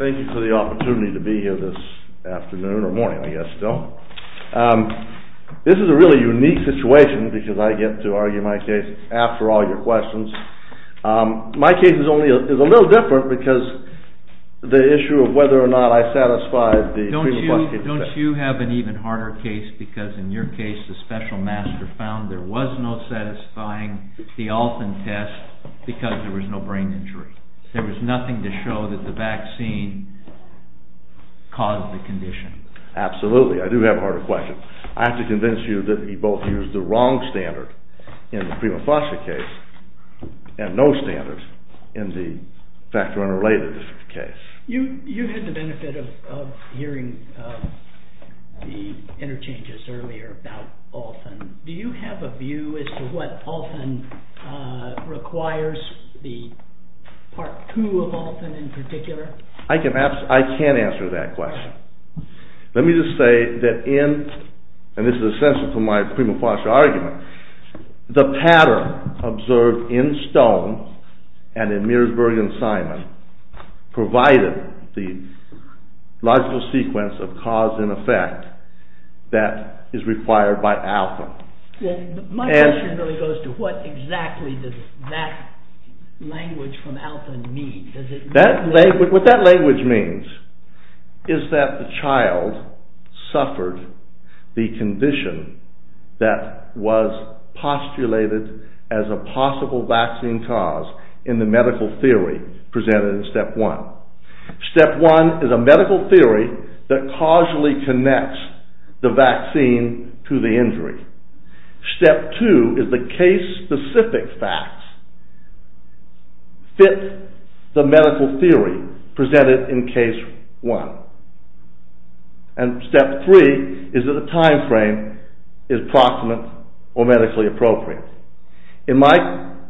Thank you for the opportunity to be here this afternoon, or morning I guess still. This is a really unique situation because I get to argue my case after all your questions. My case is a little different because of the issue of whether or not I satisfied the Prima Foster case. Don't you have an even harder case because in your case the special master found there was no satisfying the Alton test because there was no brain injury. There was nothing to show that the vaccine caused the condition. Absolutely, I do have a harder question. I have to convince you that we both used the wrong standard in the Prima Foster case and no standard in the factor unrelated case. You had the benefit of hearing the interchanges earlier about Alton. Do you have a view as to what Alton requires, the part two of Alton in particular? I can't answer that question. Let me just say that in, and this is essential to my Prima Foster argument, the pattern observed in Stone and in Mearsburg and Simon provided the logical sequence of cause and effect that is required by Alton. My question really goes to what exactly does that language from Alton mean? Step two is the case specific facts fit the medical theory presented in case one. And step three is that the time frame is proximate or medically appropriate. In my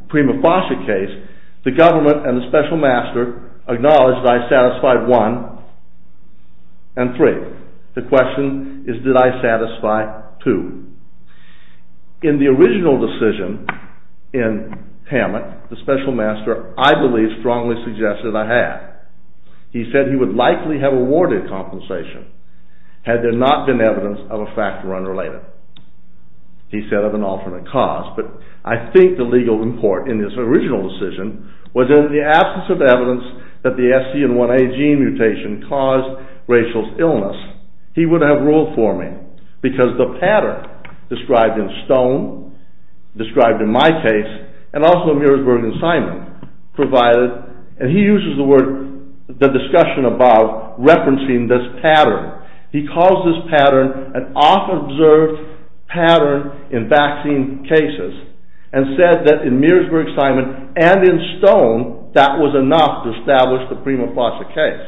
Prima Foster case, the government and the special master acknowledged that I satisfied one and three. The question is did I satisfy two? In the original decision in Hammock, the special master, I believe, strongly suggested I had. He said he would likely have awarded compensation had there not been evidence of a factor unrelated. He said of an alternate cause, but I think the legal import in this original decision was in the absence of evidence that the SC1A gene mutation caused Rachel's illness. He would have ruled for me because the pattern described in Stone, described in my case, and also Mearsburg and Simon provided, and he uses the word, the discussion about referencing this pattern. He calls this pattern an off-observed pattern in vaccine cases and said that in Mearsburg, Simon, and in Stone, that was enough to establish the Prima Foster case.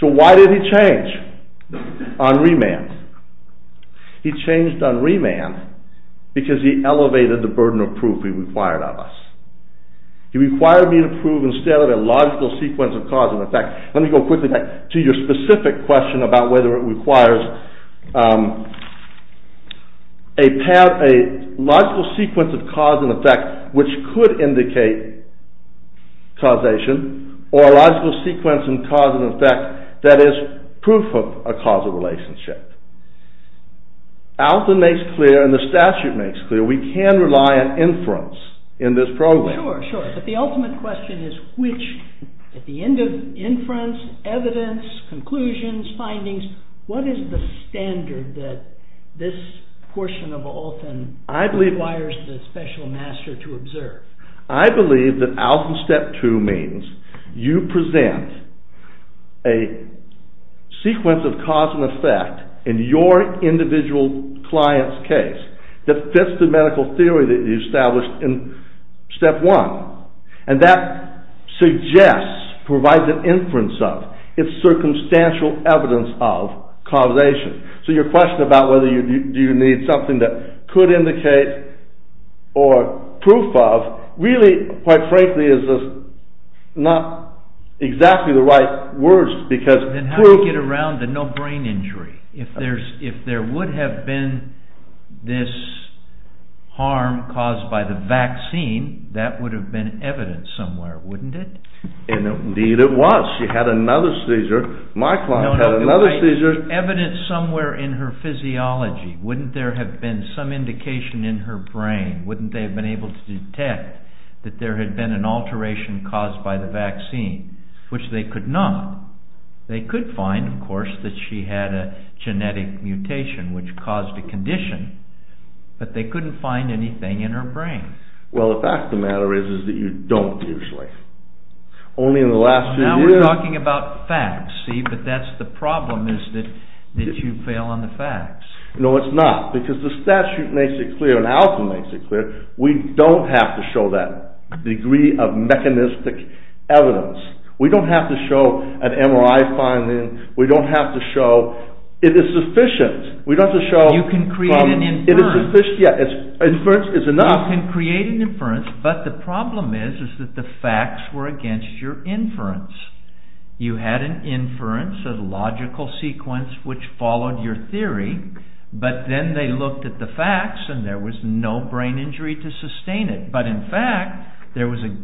So why did he change on remand? He changed on remand because he elevated the burden of proof he required of us. He required me to prove instead of a logical sequence of cause and effect, let me go quickly back to your specific question about whether it requires a logical sequence of cause and effect, which could indicate causation or a logical sequence of cause and effect that is proof of a causal relationship. Alton makes clear, and the statute makes clear, we can rely on inference in this program. Sure, sure, but the ultimate question is which, at the end of inference, evidence, conclusions, findings, what is the standard that this portion of Alton requires the special master to observe? I believe that Alton Step 2 means you present a sequence of cause and effect in your individual client's case that fits the medical theory that you established in Step 1. And that suggests, provides an inference of, it's circumstantial evidence of causation. So your question about whether you need something that could indicate or proof of, really, quite frankly, is not exactly the right words. Then how do you get around the no brain injury? If there would have been this harm caused by the vaccine, that would have been evidence somewhere, wouldn't it? Indeed it was. She had another seizure. My client had another seizure. No, no, evidence somewhere in her physiology. Wouldn't there have been some indication in her brain? Wouldn't they have been able to detect that there had been an alteration caused by the vaccine, which they could not. They could find, of course, that she had a genetic mutation which caused a condition, but they couldn't find anything in her brain. Well, the fact of the matter is that you don't usually. Only in the last few years... Now we're talking about facts, see, but that's the problem, is that you fail on the facts. No, it's not, because the statute makes it clear, and Alton makes it clear, we don't have to show that degree of mechanistic evidence. We don't have to show an MRI finding. We don't have to show, it is sufficient. We don't have to show... You can create an inference. Inference is enough. You can create an inference, but the problem is that the facts were against your inference. You had an inference, a logical sequence which followed your theory, but then they looked at the facts and there was no brain injury to sustain it. But in fact, there was a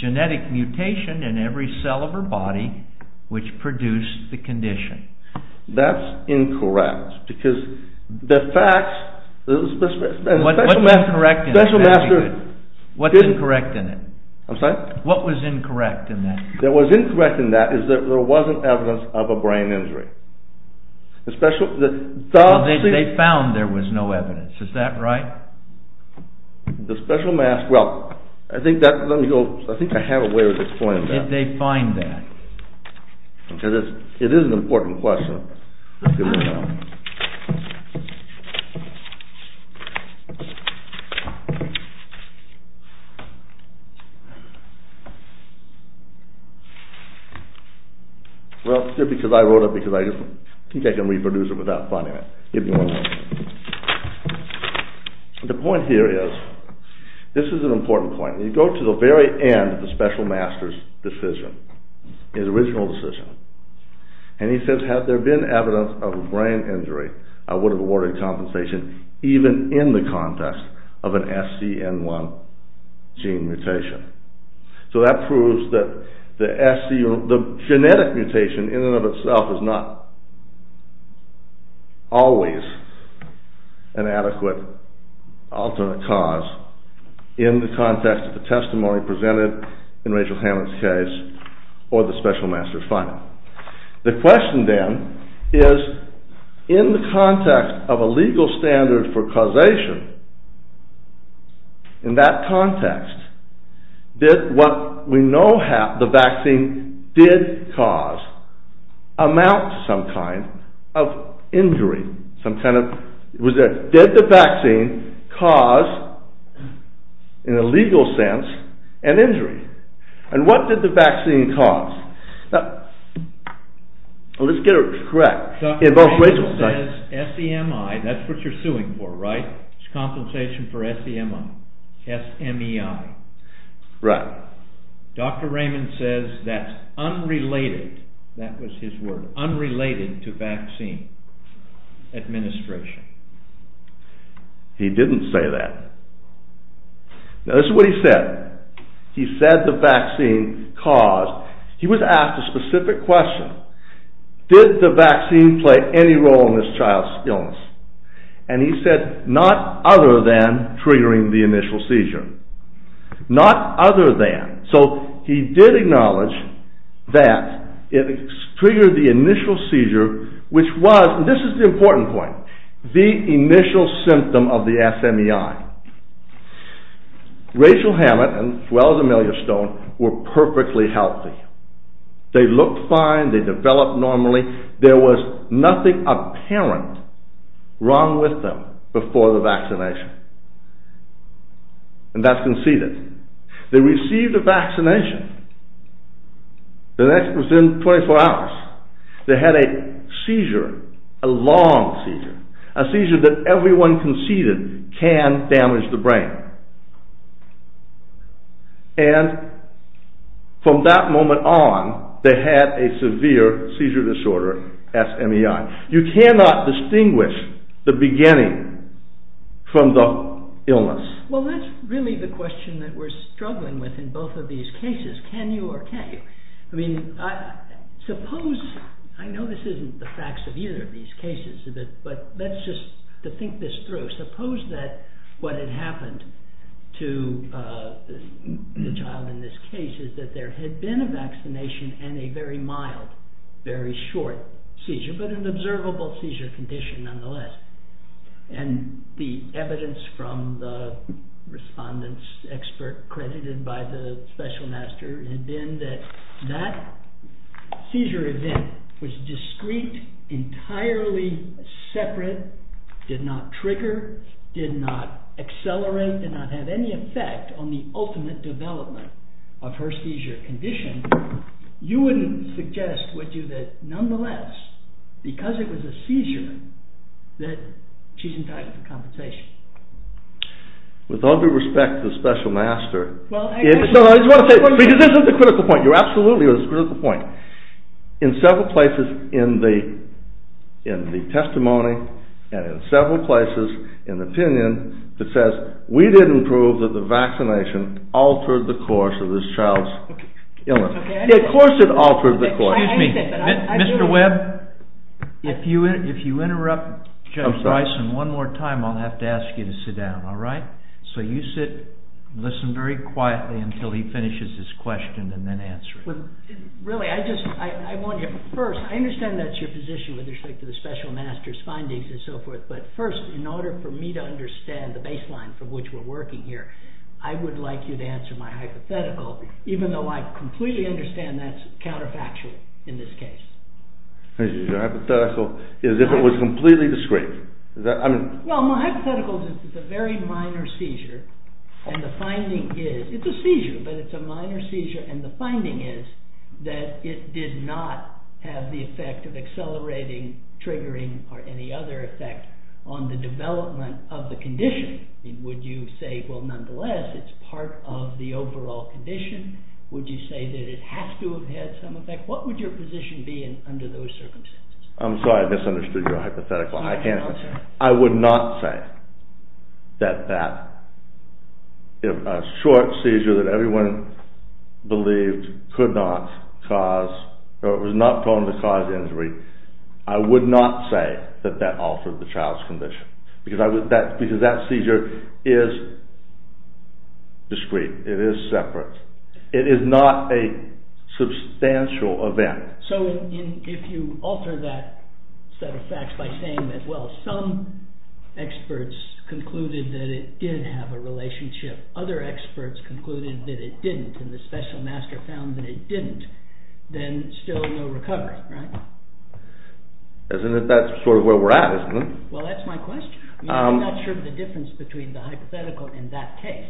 genetic mutation in every cell of her body which produced the condition. That's incorrect, because the facts... What's incorrect in it? I'm sorry? What was incorrect in that? What was incorrect in that is that there wasn't evidence of a brain injury. They found there was no evidence, is that right? The special mass, well, I think I have a way of explaining that. Did they find that? It is an important question. Well, it's good because I wrote it because I think I can reproduce it without finding it. The point here is, this is an important point. You go to the very end of the special master's decision, his original decision, and he says, had there been evidence of a brain injury, I would have awarded compensation even in the context of an SCN1 gene mutation. So that proves that the genetic mutation in and of itself is not always an adequate alternate cause in the context of the testimony presented in Rachel Hammond's case or the special master's finding. The question then is, in the context of a legal standard for causation, in that context, did what we know the vaccine did cause amount to some kind of injury? Did the vaccine cause, in a legal sense, an injury? And what did the vaccine cause? Let's get it correct. Dr. Raymond says SEMI, that's what you're suing for, right? It's compensation for SEMI, S-M-E-I. Right. Dr. Raymond says that's unrelated, that was his word, unrelated to vaccine administration. He didn't say that. Now this is what he said. He said the vaccine caused, he was asked a specific question. Did the vaccine play any role in this child's illness? And he said not other than triggering the initial seizure. Not other than. So he did acknowledge that it triggered the initial seizure, which was, and this is the important point, the initial symptom of the S-M-E-I. Rachel Hammond and Welles Amelia Stone were perfectly healthy. They looked fine, they developed normally. There was nothing apparent wrong with them before the vaccination. And that's conceded. They received a vaccination. The next, within 24 hours, they had a seizure, a long seizure. A seizure that everyone conceded can damage the brain. And from that moment on, they had a severe seizure disorder, S-M-E-I. You cannot distinguish the beginning from the illness. Well, that's really the question that we're struggling with in both of these cases. Can you or can't you? I mean, suppose, I know this isn't the facts of either of these cases, but let's just think this through. Suppose that what had happened to the child in this case is that there had been a vaccination and a very mild, very short seizure, but an observable seizure condition nonetheless. And the evidence from the respondent's expert credited by the special master had been that that seizure event was discrete, entirely separate, did not trigger, did not accelerate, did not have any effect on the ultimate development of her seizure condition. You wouldn't suggest, would you, that nonetheless, because it was a seizure, that she's entitled to compensation? With all due respect to the special master... Well, I... No, no, I just want to say, because this is the critical point. You're absolutely on this critical point. In several places in the testimony and in several places in the opinion that says, we didn't prove that the vaccination altered the course of this child's illness. Of course it altered the course. Excuse me, Mr. Webb, if you interrupt Judge Bryson one more time, I'll have to ask you to sit down, all right? So you sit and listen very quietly until he finishes his question and then answer it. Really, I just, I want to, first, I understand that's your position with respect to the special master's findings and so forth, but first, in order for me to understand the baseline from which we're working here, I would like you to answer my hypothetical, even though I completely understand that's counterfactual in this case. Your hypothetical is if it was completely discreet. Well, my hypothetical is that it's a very minor seizure, and the finding is, it's a seizure, but it's a minor seizure, and the finding is that it did not have the effect of accelerating, triggering, or any other effect on the development of the condition. Would you say, well, nonetheless, it's part of the overall condition? Would you say that it has to have had some effect? What would your position be under those circumstances? I'm sorry, I misunderstood your hypothetical. I would not say that a short seizure that everyone believed could not cause, or was not prone to cause injury, I would not say that that altered the child's condition, because that seizure is discreet. It is separate. It is not a substantial event. So, if you alter that set of facts by saying that, well, some experts concluded that it did have a relationship, other experts concluded that it didn't, and the special master found that it didn't, then still no recovery, right? Isn't that sort of where we're at, isn't it? Well, that's my question. I'm not sure of the difference between the hypothetical and that case.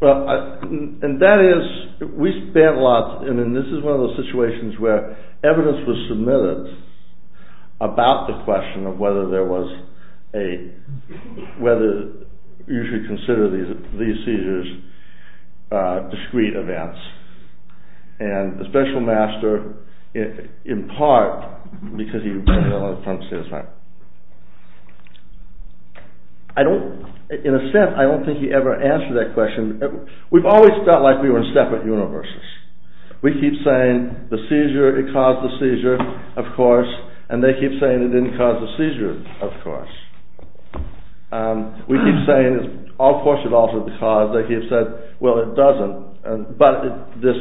Well, and that is, we spent lots, and this is one of those situations where evidence was submitted about the question of whether there was a, whether you should consider these seizures discreet events. And the special master, in part, because he, I'm sorry. I don't, in a sense, I don't think he ever answered that question. We've always felt like we were in separate universes. We keep saying the seizure, it caused the seizure, of course, and they keep saying it didn't cause the seizure, of course. We keep saying, of course it altered the cause, they keep saying, well, it doesn't. But this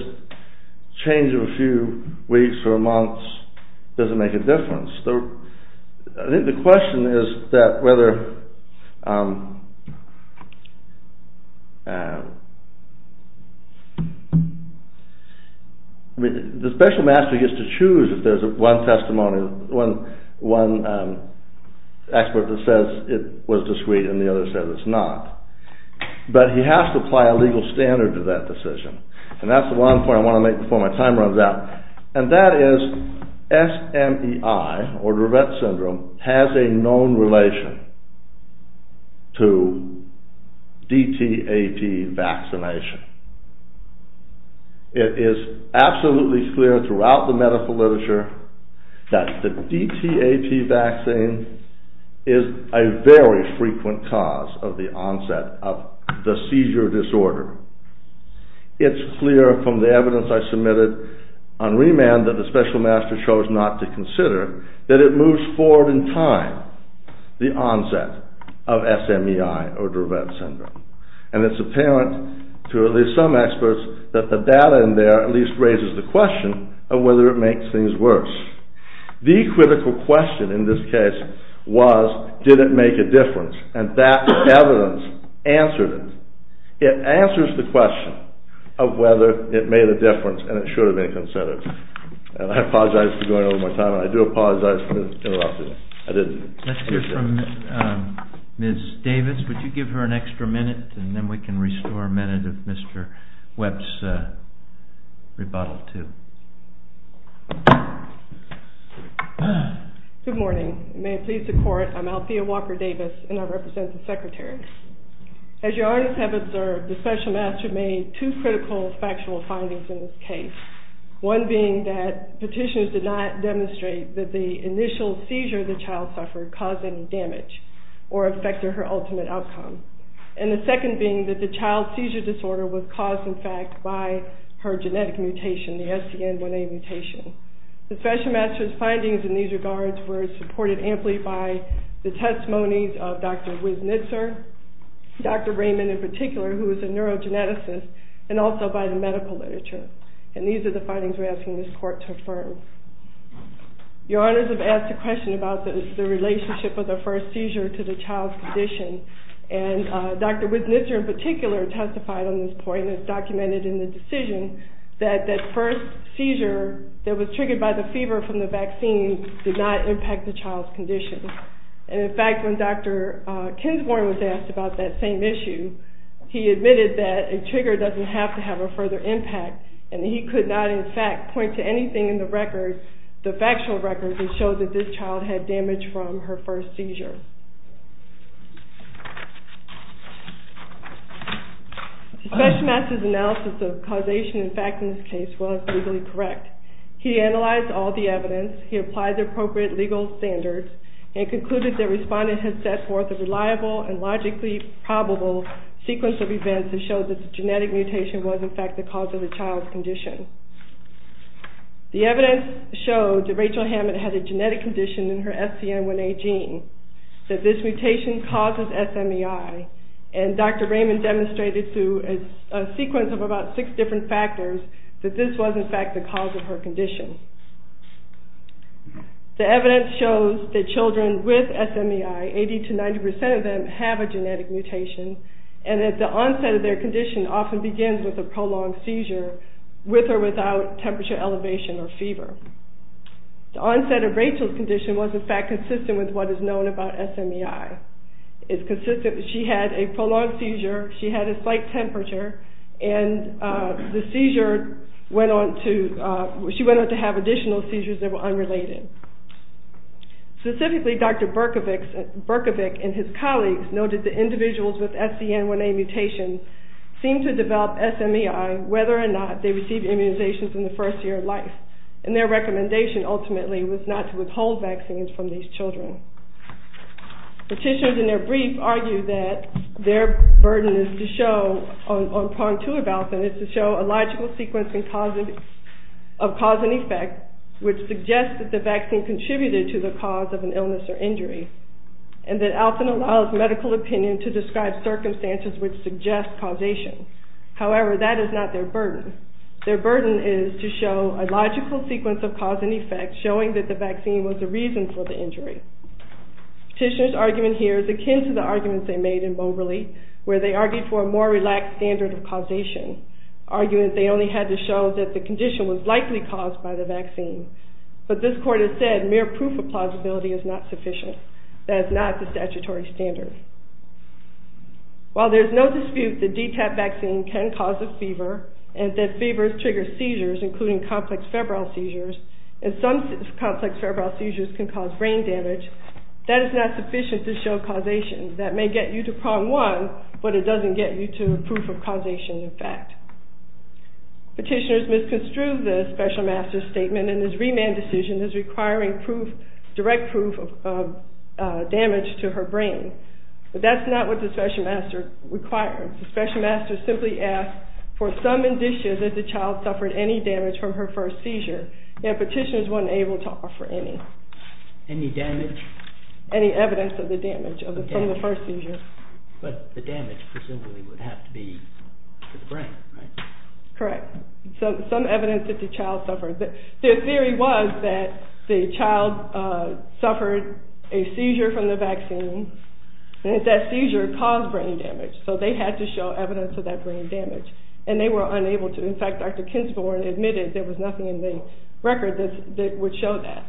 change of a few weeks or months doesn't make a difference. I think the question is that whether, I mean, the special master gets to choose if there's one testimony, one expert that says it was discreet and the other says it's not. But he has to apply a legal standard to that decision. And that's the one point I want to make before my time runs out. And that is SMEI, or Durette Syndrome, has a known relation to DTAT vaccination. It is absolutely clear throughout the medical literature that the DTAT vaccine is a very frequent cause of the onset of the seizure disorder. It's clear from the evidence I submitted on remand that the special master chose not to consider that it moves forward in time, the onset of SMEI or Durette Syndrome. And it's apparent to at least some experts that the data in there at least raises the question of whether it makes things worse. The critical question in this case was, did it make a difference? And that evidence answered it. It answers the question of whether it made a difference and it should have been considered. And I apologize for going over my time. And I do apologize for interrupting. I didn't. Let's hear from Ms. Davis. Would you give her an extra minute? And then we can restore a minute of Mr. Webb's rebuttal too. Good morning. May it please the Court, I'm Althea Walker Davis and I represent the Secretary. As you already have observed, the special master made two critical factual findings in this case. One being that petitioners did not demonstrate that the initial seizure the child suffered caused any damage or affected her ultimate outcome. And the second being that the child's seizure disorder was caused, in fact, by her genetic mutation, the SCN1A mutation. The special master's findings in these regards were supported amply by the testimonies of Dr. Wiesnitzer, Dr. Raymond in particular, who is a neurogeneticist, and also by the medical literature. And these are the findings we're asking this Court to affirm. Your Honors have asked a question about the relationship of the first seizure to the child's condition. And Dr. Wiesnitzer in particular testified on this point and it's documented in the decision that that first seizure that was triggered by the fever from the vaccine did not impact the child's condition. And in fact, when Dr. Kinsmore was asked about that same issue, he admitted that a trigger doesn't have to have a further impact. And he could not, in fact, point to anything in the record, the factual record, that showed that this child had damage from her first seizure. The special master's analysis of causation and fact in this case was legally correct. He analyzed all the evidence, he applied the appropriate legal standards, and concluded that respondents had set forth a reliable and logically probable sequence of events that showed that the genetic mutation was, in fact, the cause of the child's condition. The evidence showed that Rachel Hammond had a genetic condition in her SCN1A gene, that this mutation causes SMEI. And Dr. Raymond demonstrated through a sequence of about six different factors that this was, in fact, the cause of her condition. The evidence shows that children with SMEI, 80 to 90% of them, have a genetic mutation, and that the onset of their condition often begins with a prolonged seizure, with or without temperature elevation or fever. The onset of Rachel's condition was, in fact, consistent with what is known about SMEI. She had a prolonged seizure, she had a slight temperature, and she went on to have additional seizures that were unrelated. Specifically, Dr. Berkovic and his colleagues noted that individuals with SCN1A mutations seemed to develop SMEI whether or not they received immunizations in the first year of life. And their recommendation, ultimately, was not to withhold vaccines from these children. Petitioners, in their brief, argue that their burden is to show, on prong two of Alfin, is to show a logical sequence of cause and effect, which suggests that the vaccine contributed to the cause of an illness or injury, and that Alfin allows medical opinion to describe circumstances which suggest causation. However, that is not their burden. Their burden is to show a logical sequence of cause and effect, showing that the vaccine was the reason for the injury. Petitioner's argument here is akin to the arguments they made in Moberly, where they argued for a more relaxed standard of causation, arguing that they only had to show that the condition was likely caused by the vaccine. But this court has said mere proof of plausibility is not sufficient. That is not the statutory standard. While there's no dispute that DTaP vaccine can cause a fever, and that fevers trigger seizures, including complex febrile seizures, and some complex febrile seizures can cause brain damage, that is not sufficient to show causation. That may get you to prong one, but it doesn't get you to proof of causation in fact. Petitioners misconstrued the special master's statement in his remand decision as requiring direct proof of damage to her brain. But that's not what the special master required. The special master simply asked for some indicia that the child suffered any damage from her first seizure, and petitioners weren't able to offer any. Any damage? Any evidence of the damage from the first seizure. But the damage presumably would have to be to the brain, right? Correct. Some evidence that the child suffered. Their theory was that the child suffered a seizure from the vaccine, and that seizure caused brain damage. So they had to show evidence of that brain damage, and they were unable to. In fact, Dr. Kinsporn admitted there was nothing in the record that would show that.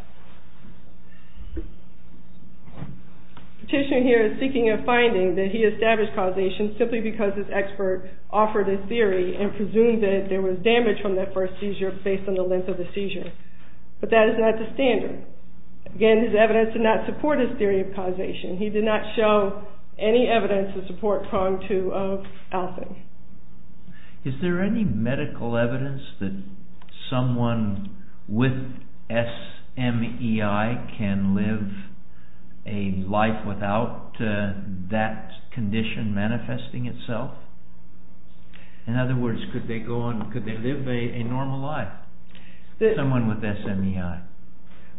The petitioner here is seeking a finding that he established causation simply because his expert offered his theory and presumed that there was damage from that first seizure based on the length of the seizure. But that is not the standard. Again, his evidence did not support his theory of causation. He did not show any evidence to support prong two of Alfie. Is there any medical evidence that someone with SMEI can live a life without that condition manifesting itself? In other words, could they live a normal life? Someone with SMEI.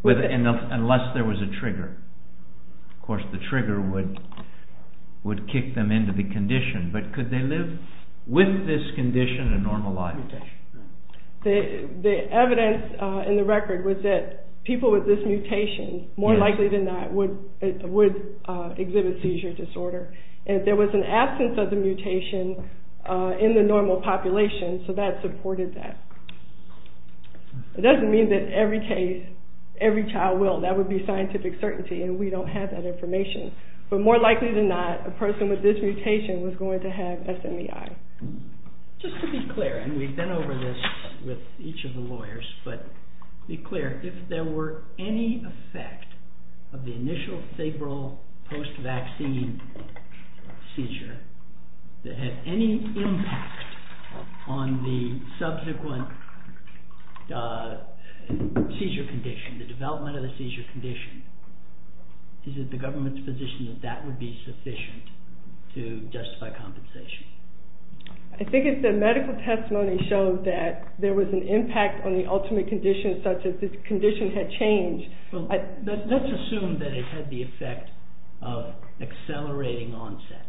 Unless there was a trigger. Of course, the trigger would kick them into the condition. But could they live with this condition and normal life? The evidence in the record was that people with this mutation, more likely than not, would exhibit seizure disorder. There was an absence of the mutation in the normal population, so that supported that. It doesn't mean that every child will. That would be scientific certainty, and we don't have that information. But more likely than not, a person with this mutation was going to have SMEI. Just to be clear, and we've been over this with each of the lawyers, but be clear. If there were any effect of the initial febrile post-vaccine seizure that had any impact on the subsequent seizure condition, the development of the seizure condition, is it the government's position that that would be sufficient to justify compensation? I think if the medical testimony showed that there was an impact on the ultimate condition, such as if the condition had changed... Let's assume that it had the effect of accelerating onset.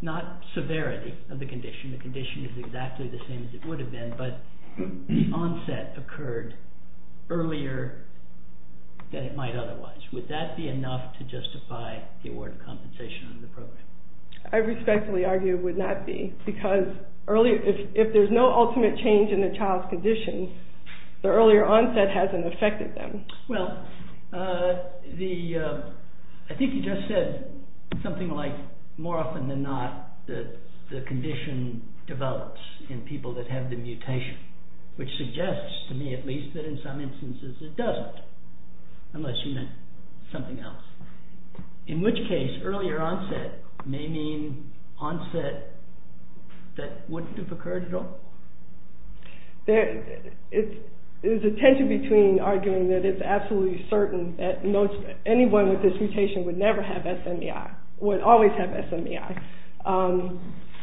Not severity of the condition. The condition is exactly the same as it would have been, but the onset occurred earlier than it might otherwise. Would that be enough to justify the award of compensation under the program? I respectfully argue it would not be, because if there's no ultimate change in the child's condition, the earlier onset hasn't affected them. Well, I think you just said something like, more often than not, the condition develops in people that have the mutation. Which suggests, to me at least, that in some instances it doesn't. Unless you meant something else. In which case, earlier onset may mean onset that wouldn't have occurred at all? There's a tension between arguing that it's absolutely certain that anyone with this mutation would never have SMEI, would always have SMEI.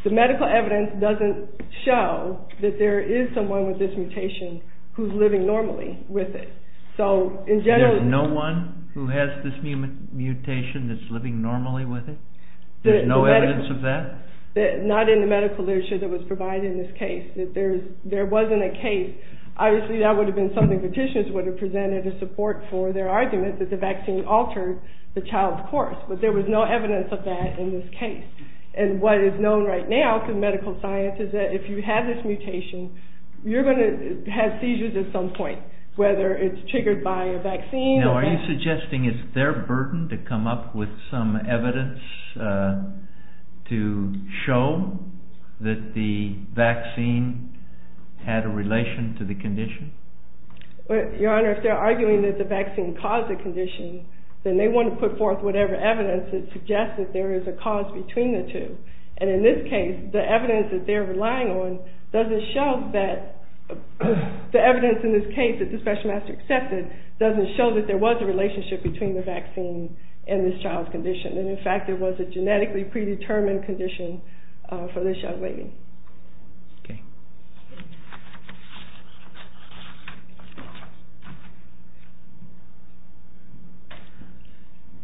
The medical evidence doesn't show that there is someone with this mutation who's living normally with it. There's no one who has this mutation that's living normally with it? There's no evidence of that? Not in the medical literature that was provided in this case. There wasn't a case. Obviously that would have been something petitioners would have presented as support for their argument that the vaccine altered the child's course. But there was no evidence of that in this case. And what is known right now through medical science is that if you have this mutation, you're going to have seizures at some point. Whether it's triggered by a vaccine or... Now are you suggesting it's their burden to come up with some evidence to show that the vaccine had a relation to the condition? Your Honor, if they're arguing that the vaccine caused the condition, then they want to put forth whatever evidence that suggests that there is a cause between the two. And in this case, the evidence that they're relying on doesn't show that... The evidence in this case that the special master accepted doesn't show that there was a relationship between the vaccine and this child's condition. And in fact, it was a genetically predetermined condition for this young lady.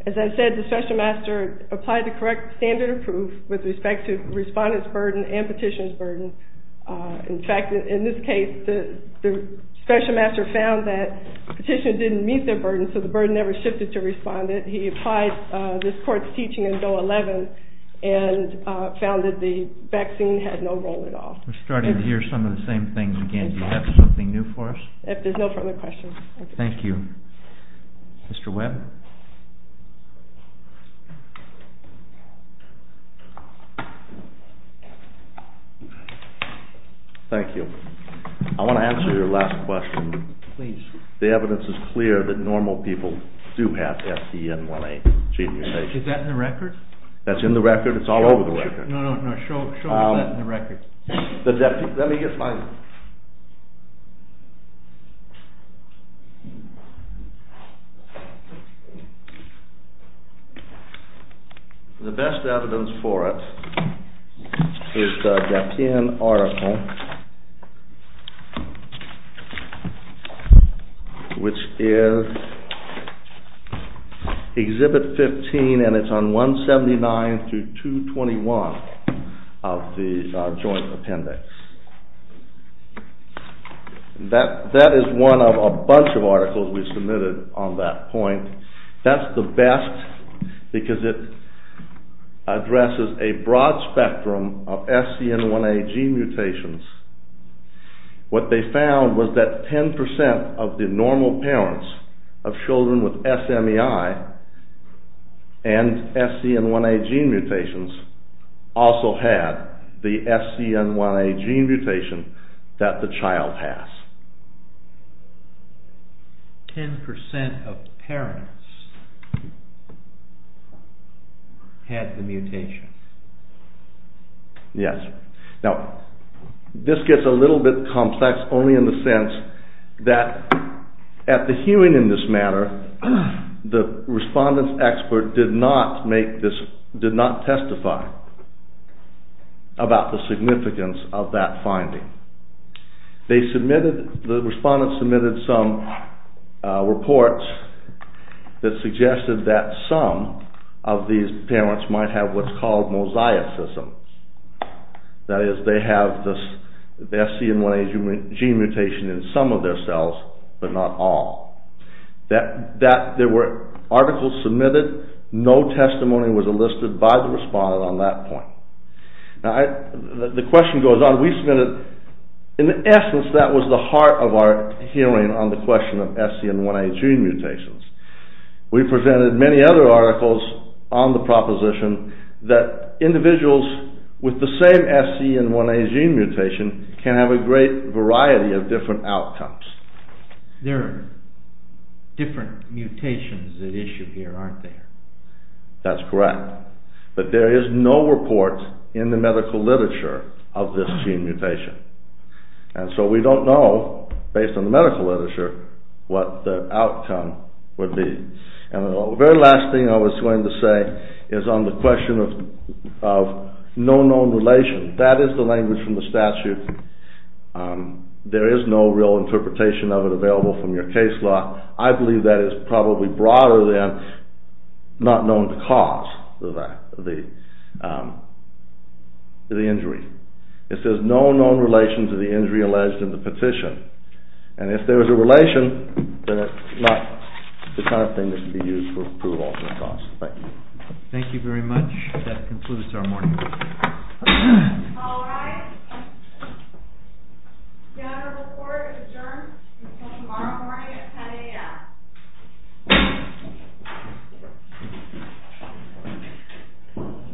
As I said, the special master applied the correct standard of proof with respect to the respondent's burden and petitioner's burden. In fact, in this case, the special master found that the petitioner didn't meet their burden, so the burden never shifted to the respondent. He applied this court's teaching in Bill 11 and found that the vaccine had no relation to the condition. We're starting to hear some of the same things again. Do you have something new for us? If there's no further questions... Thank you. Mr. Webb? Thank you. I want to answer your last question. Please. The evidence is clear that normal people do have SCN1A gene mutation. Is that in the record? That's in the record. It's all over the record. No, no, no. Show me that in the record. Let me get my... The best evidence for it is the Gapien article, which is Exhibit 15, and it's on 179 through 221 of the Joint Appendix. That is one of a bunch of articles we submitted on that point. That's the best because it addresses a broad spectrum of SCN1A gene mutations. What they found was that 10% of the normal parents of children with SMEI and SCN1A gene mutations also had the SCN1A gene mutation that the child has. 10% of parents had the mutation. Yes. Now, this gets a little bit complex only in the sense that at the hearing in this matter, the respondent's expert did not testify about the significance of that finding. The respondent submitted some reports that suggested that some of these parents might have what's called mosaicism. That is, they have the SCN1A gene mutation in some of their cells, but not all. There were articles submitted. No testimony was enlisted by the respondent on that point. Now, the question goes on. We submitted... In essence, that was the heart of our hearing on the question of SCN1A gene mutations. We presented many other articles on the proposition that individuals with the same SCN1A gene mutation can have a great variety of different outcomes. There are different mutations at issue here, aren't there? That's correct. But there is no report in the medical literature of this gene mutation. And so we don't know, based on the medical literature, what the outcome would be. And the very last thing I was going to say is on the question of no known relation. That is the language from the statute. There is no real interpretation of it available from your case law. I believe that is probably broader than not known cause of the injury. It says no known relation to the injury alleged in the petition. And if there is a relation, then it's not the kind of thing that can be used for approval. Thank you. Thank you very much. That concludes our morning briefing. All rise. General report adjourned until tomorrow morning at 10 a.m.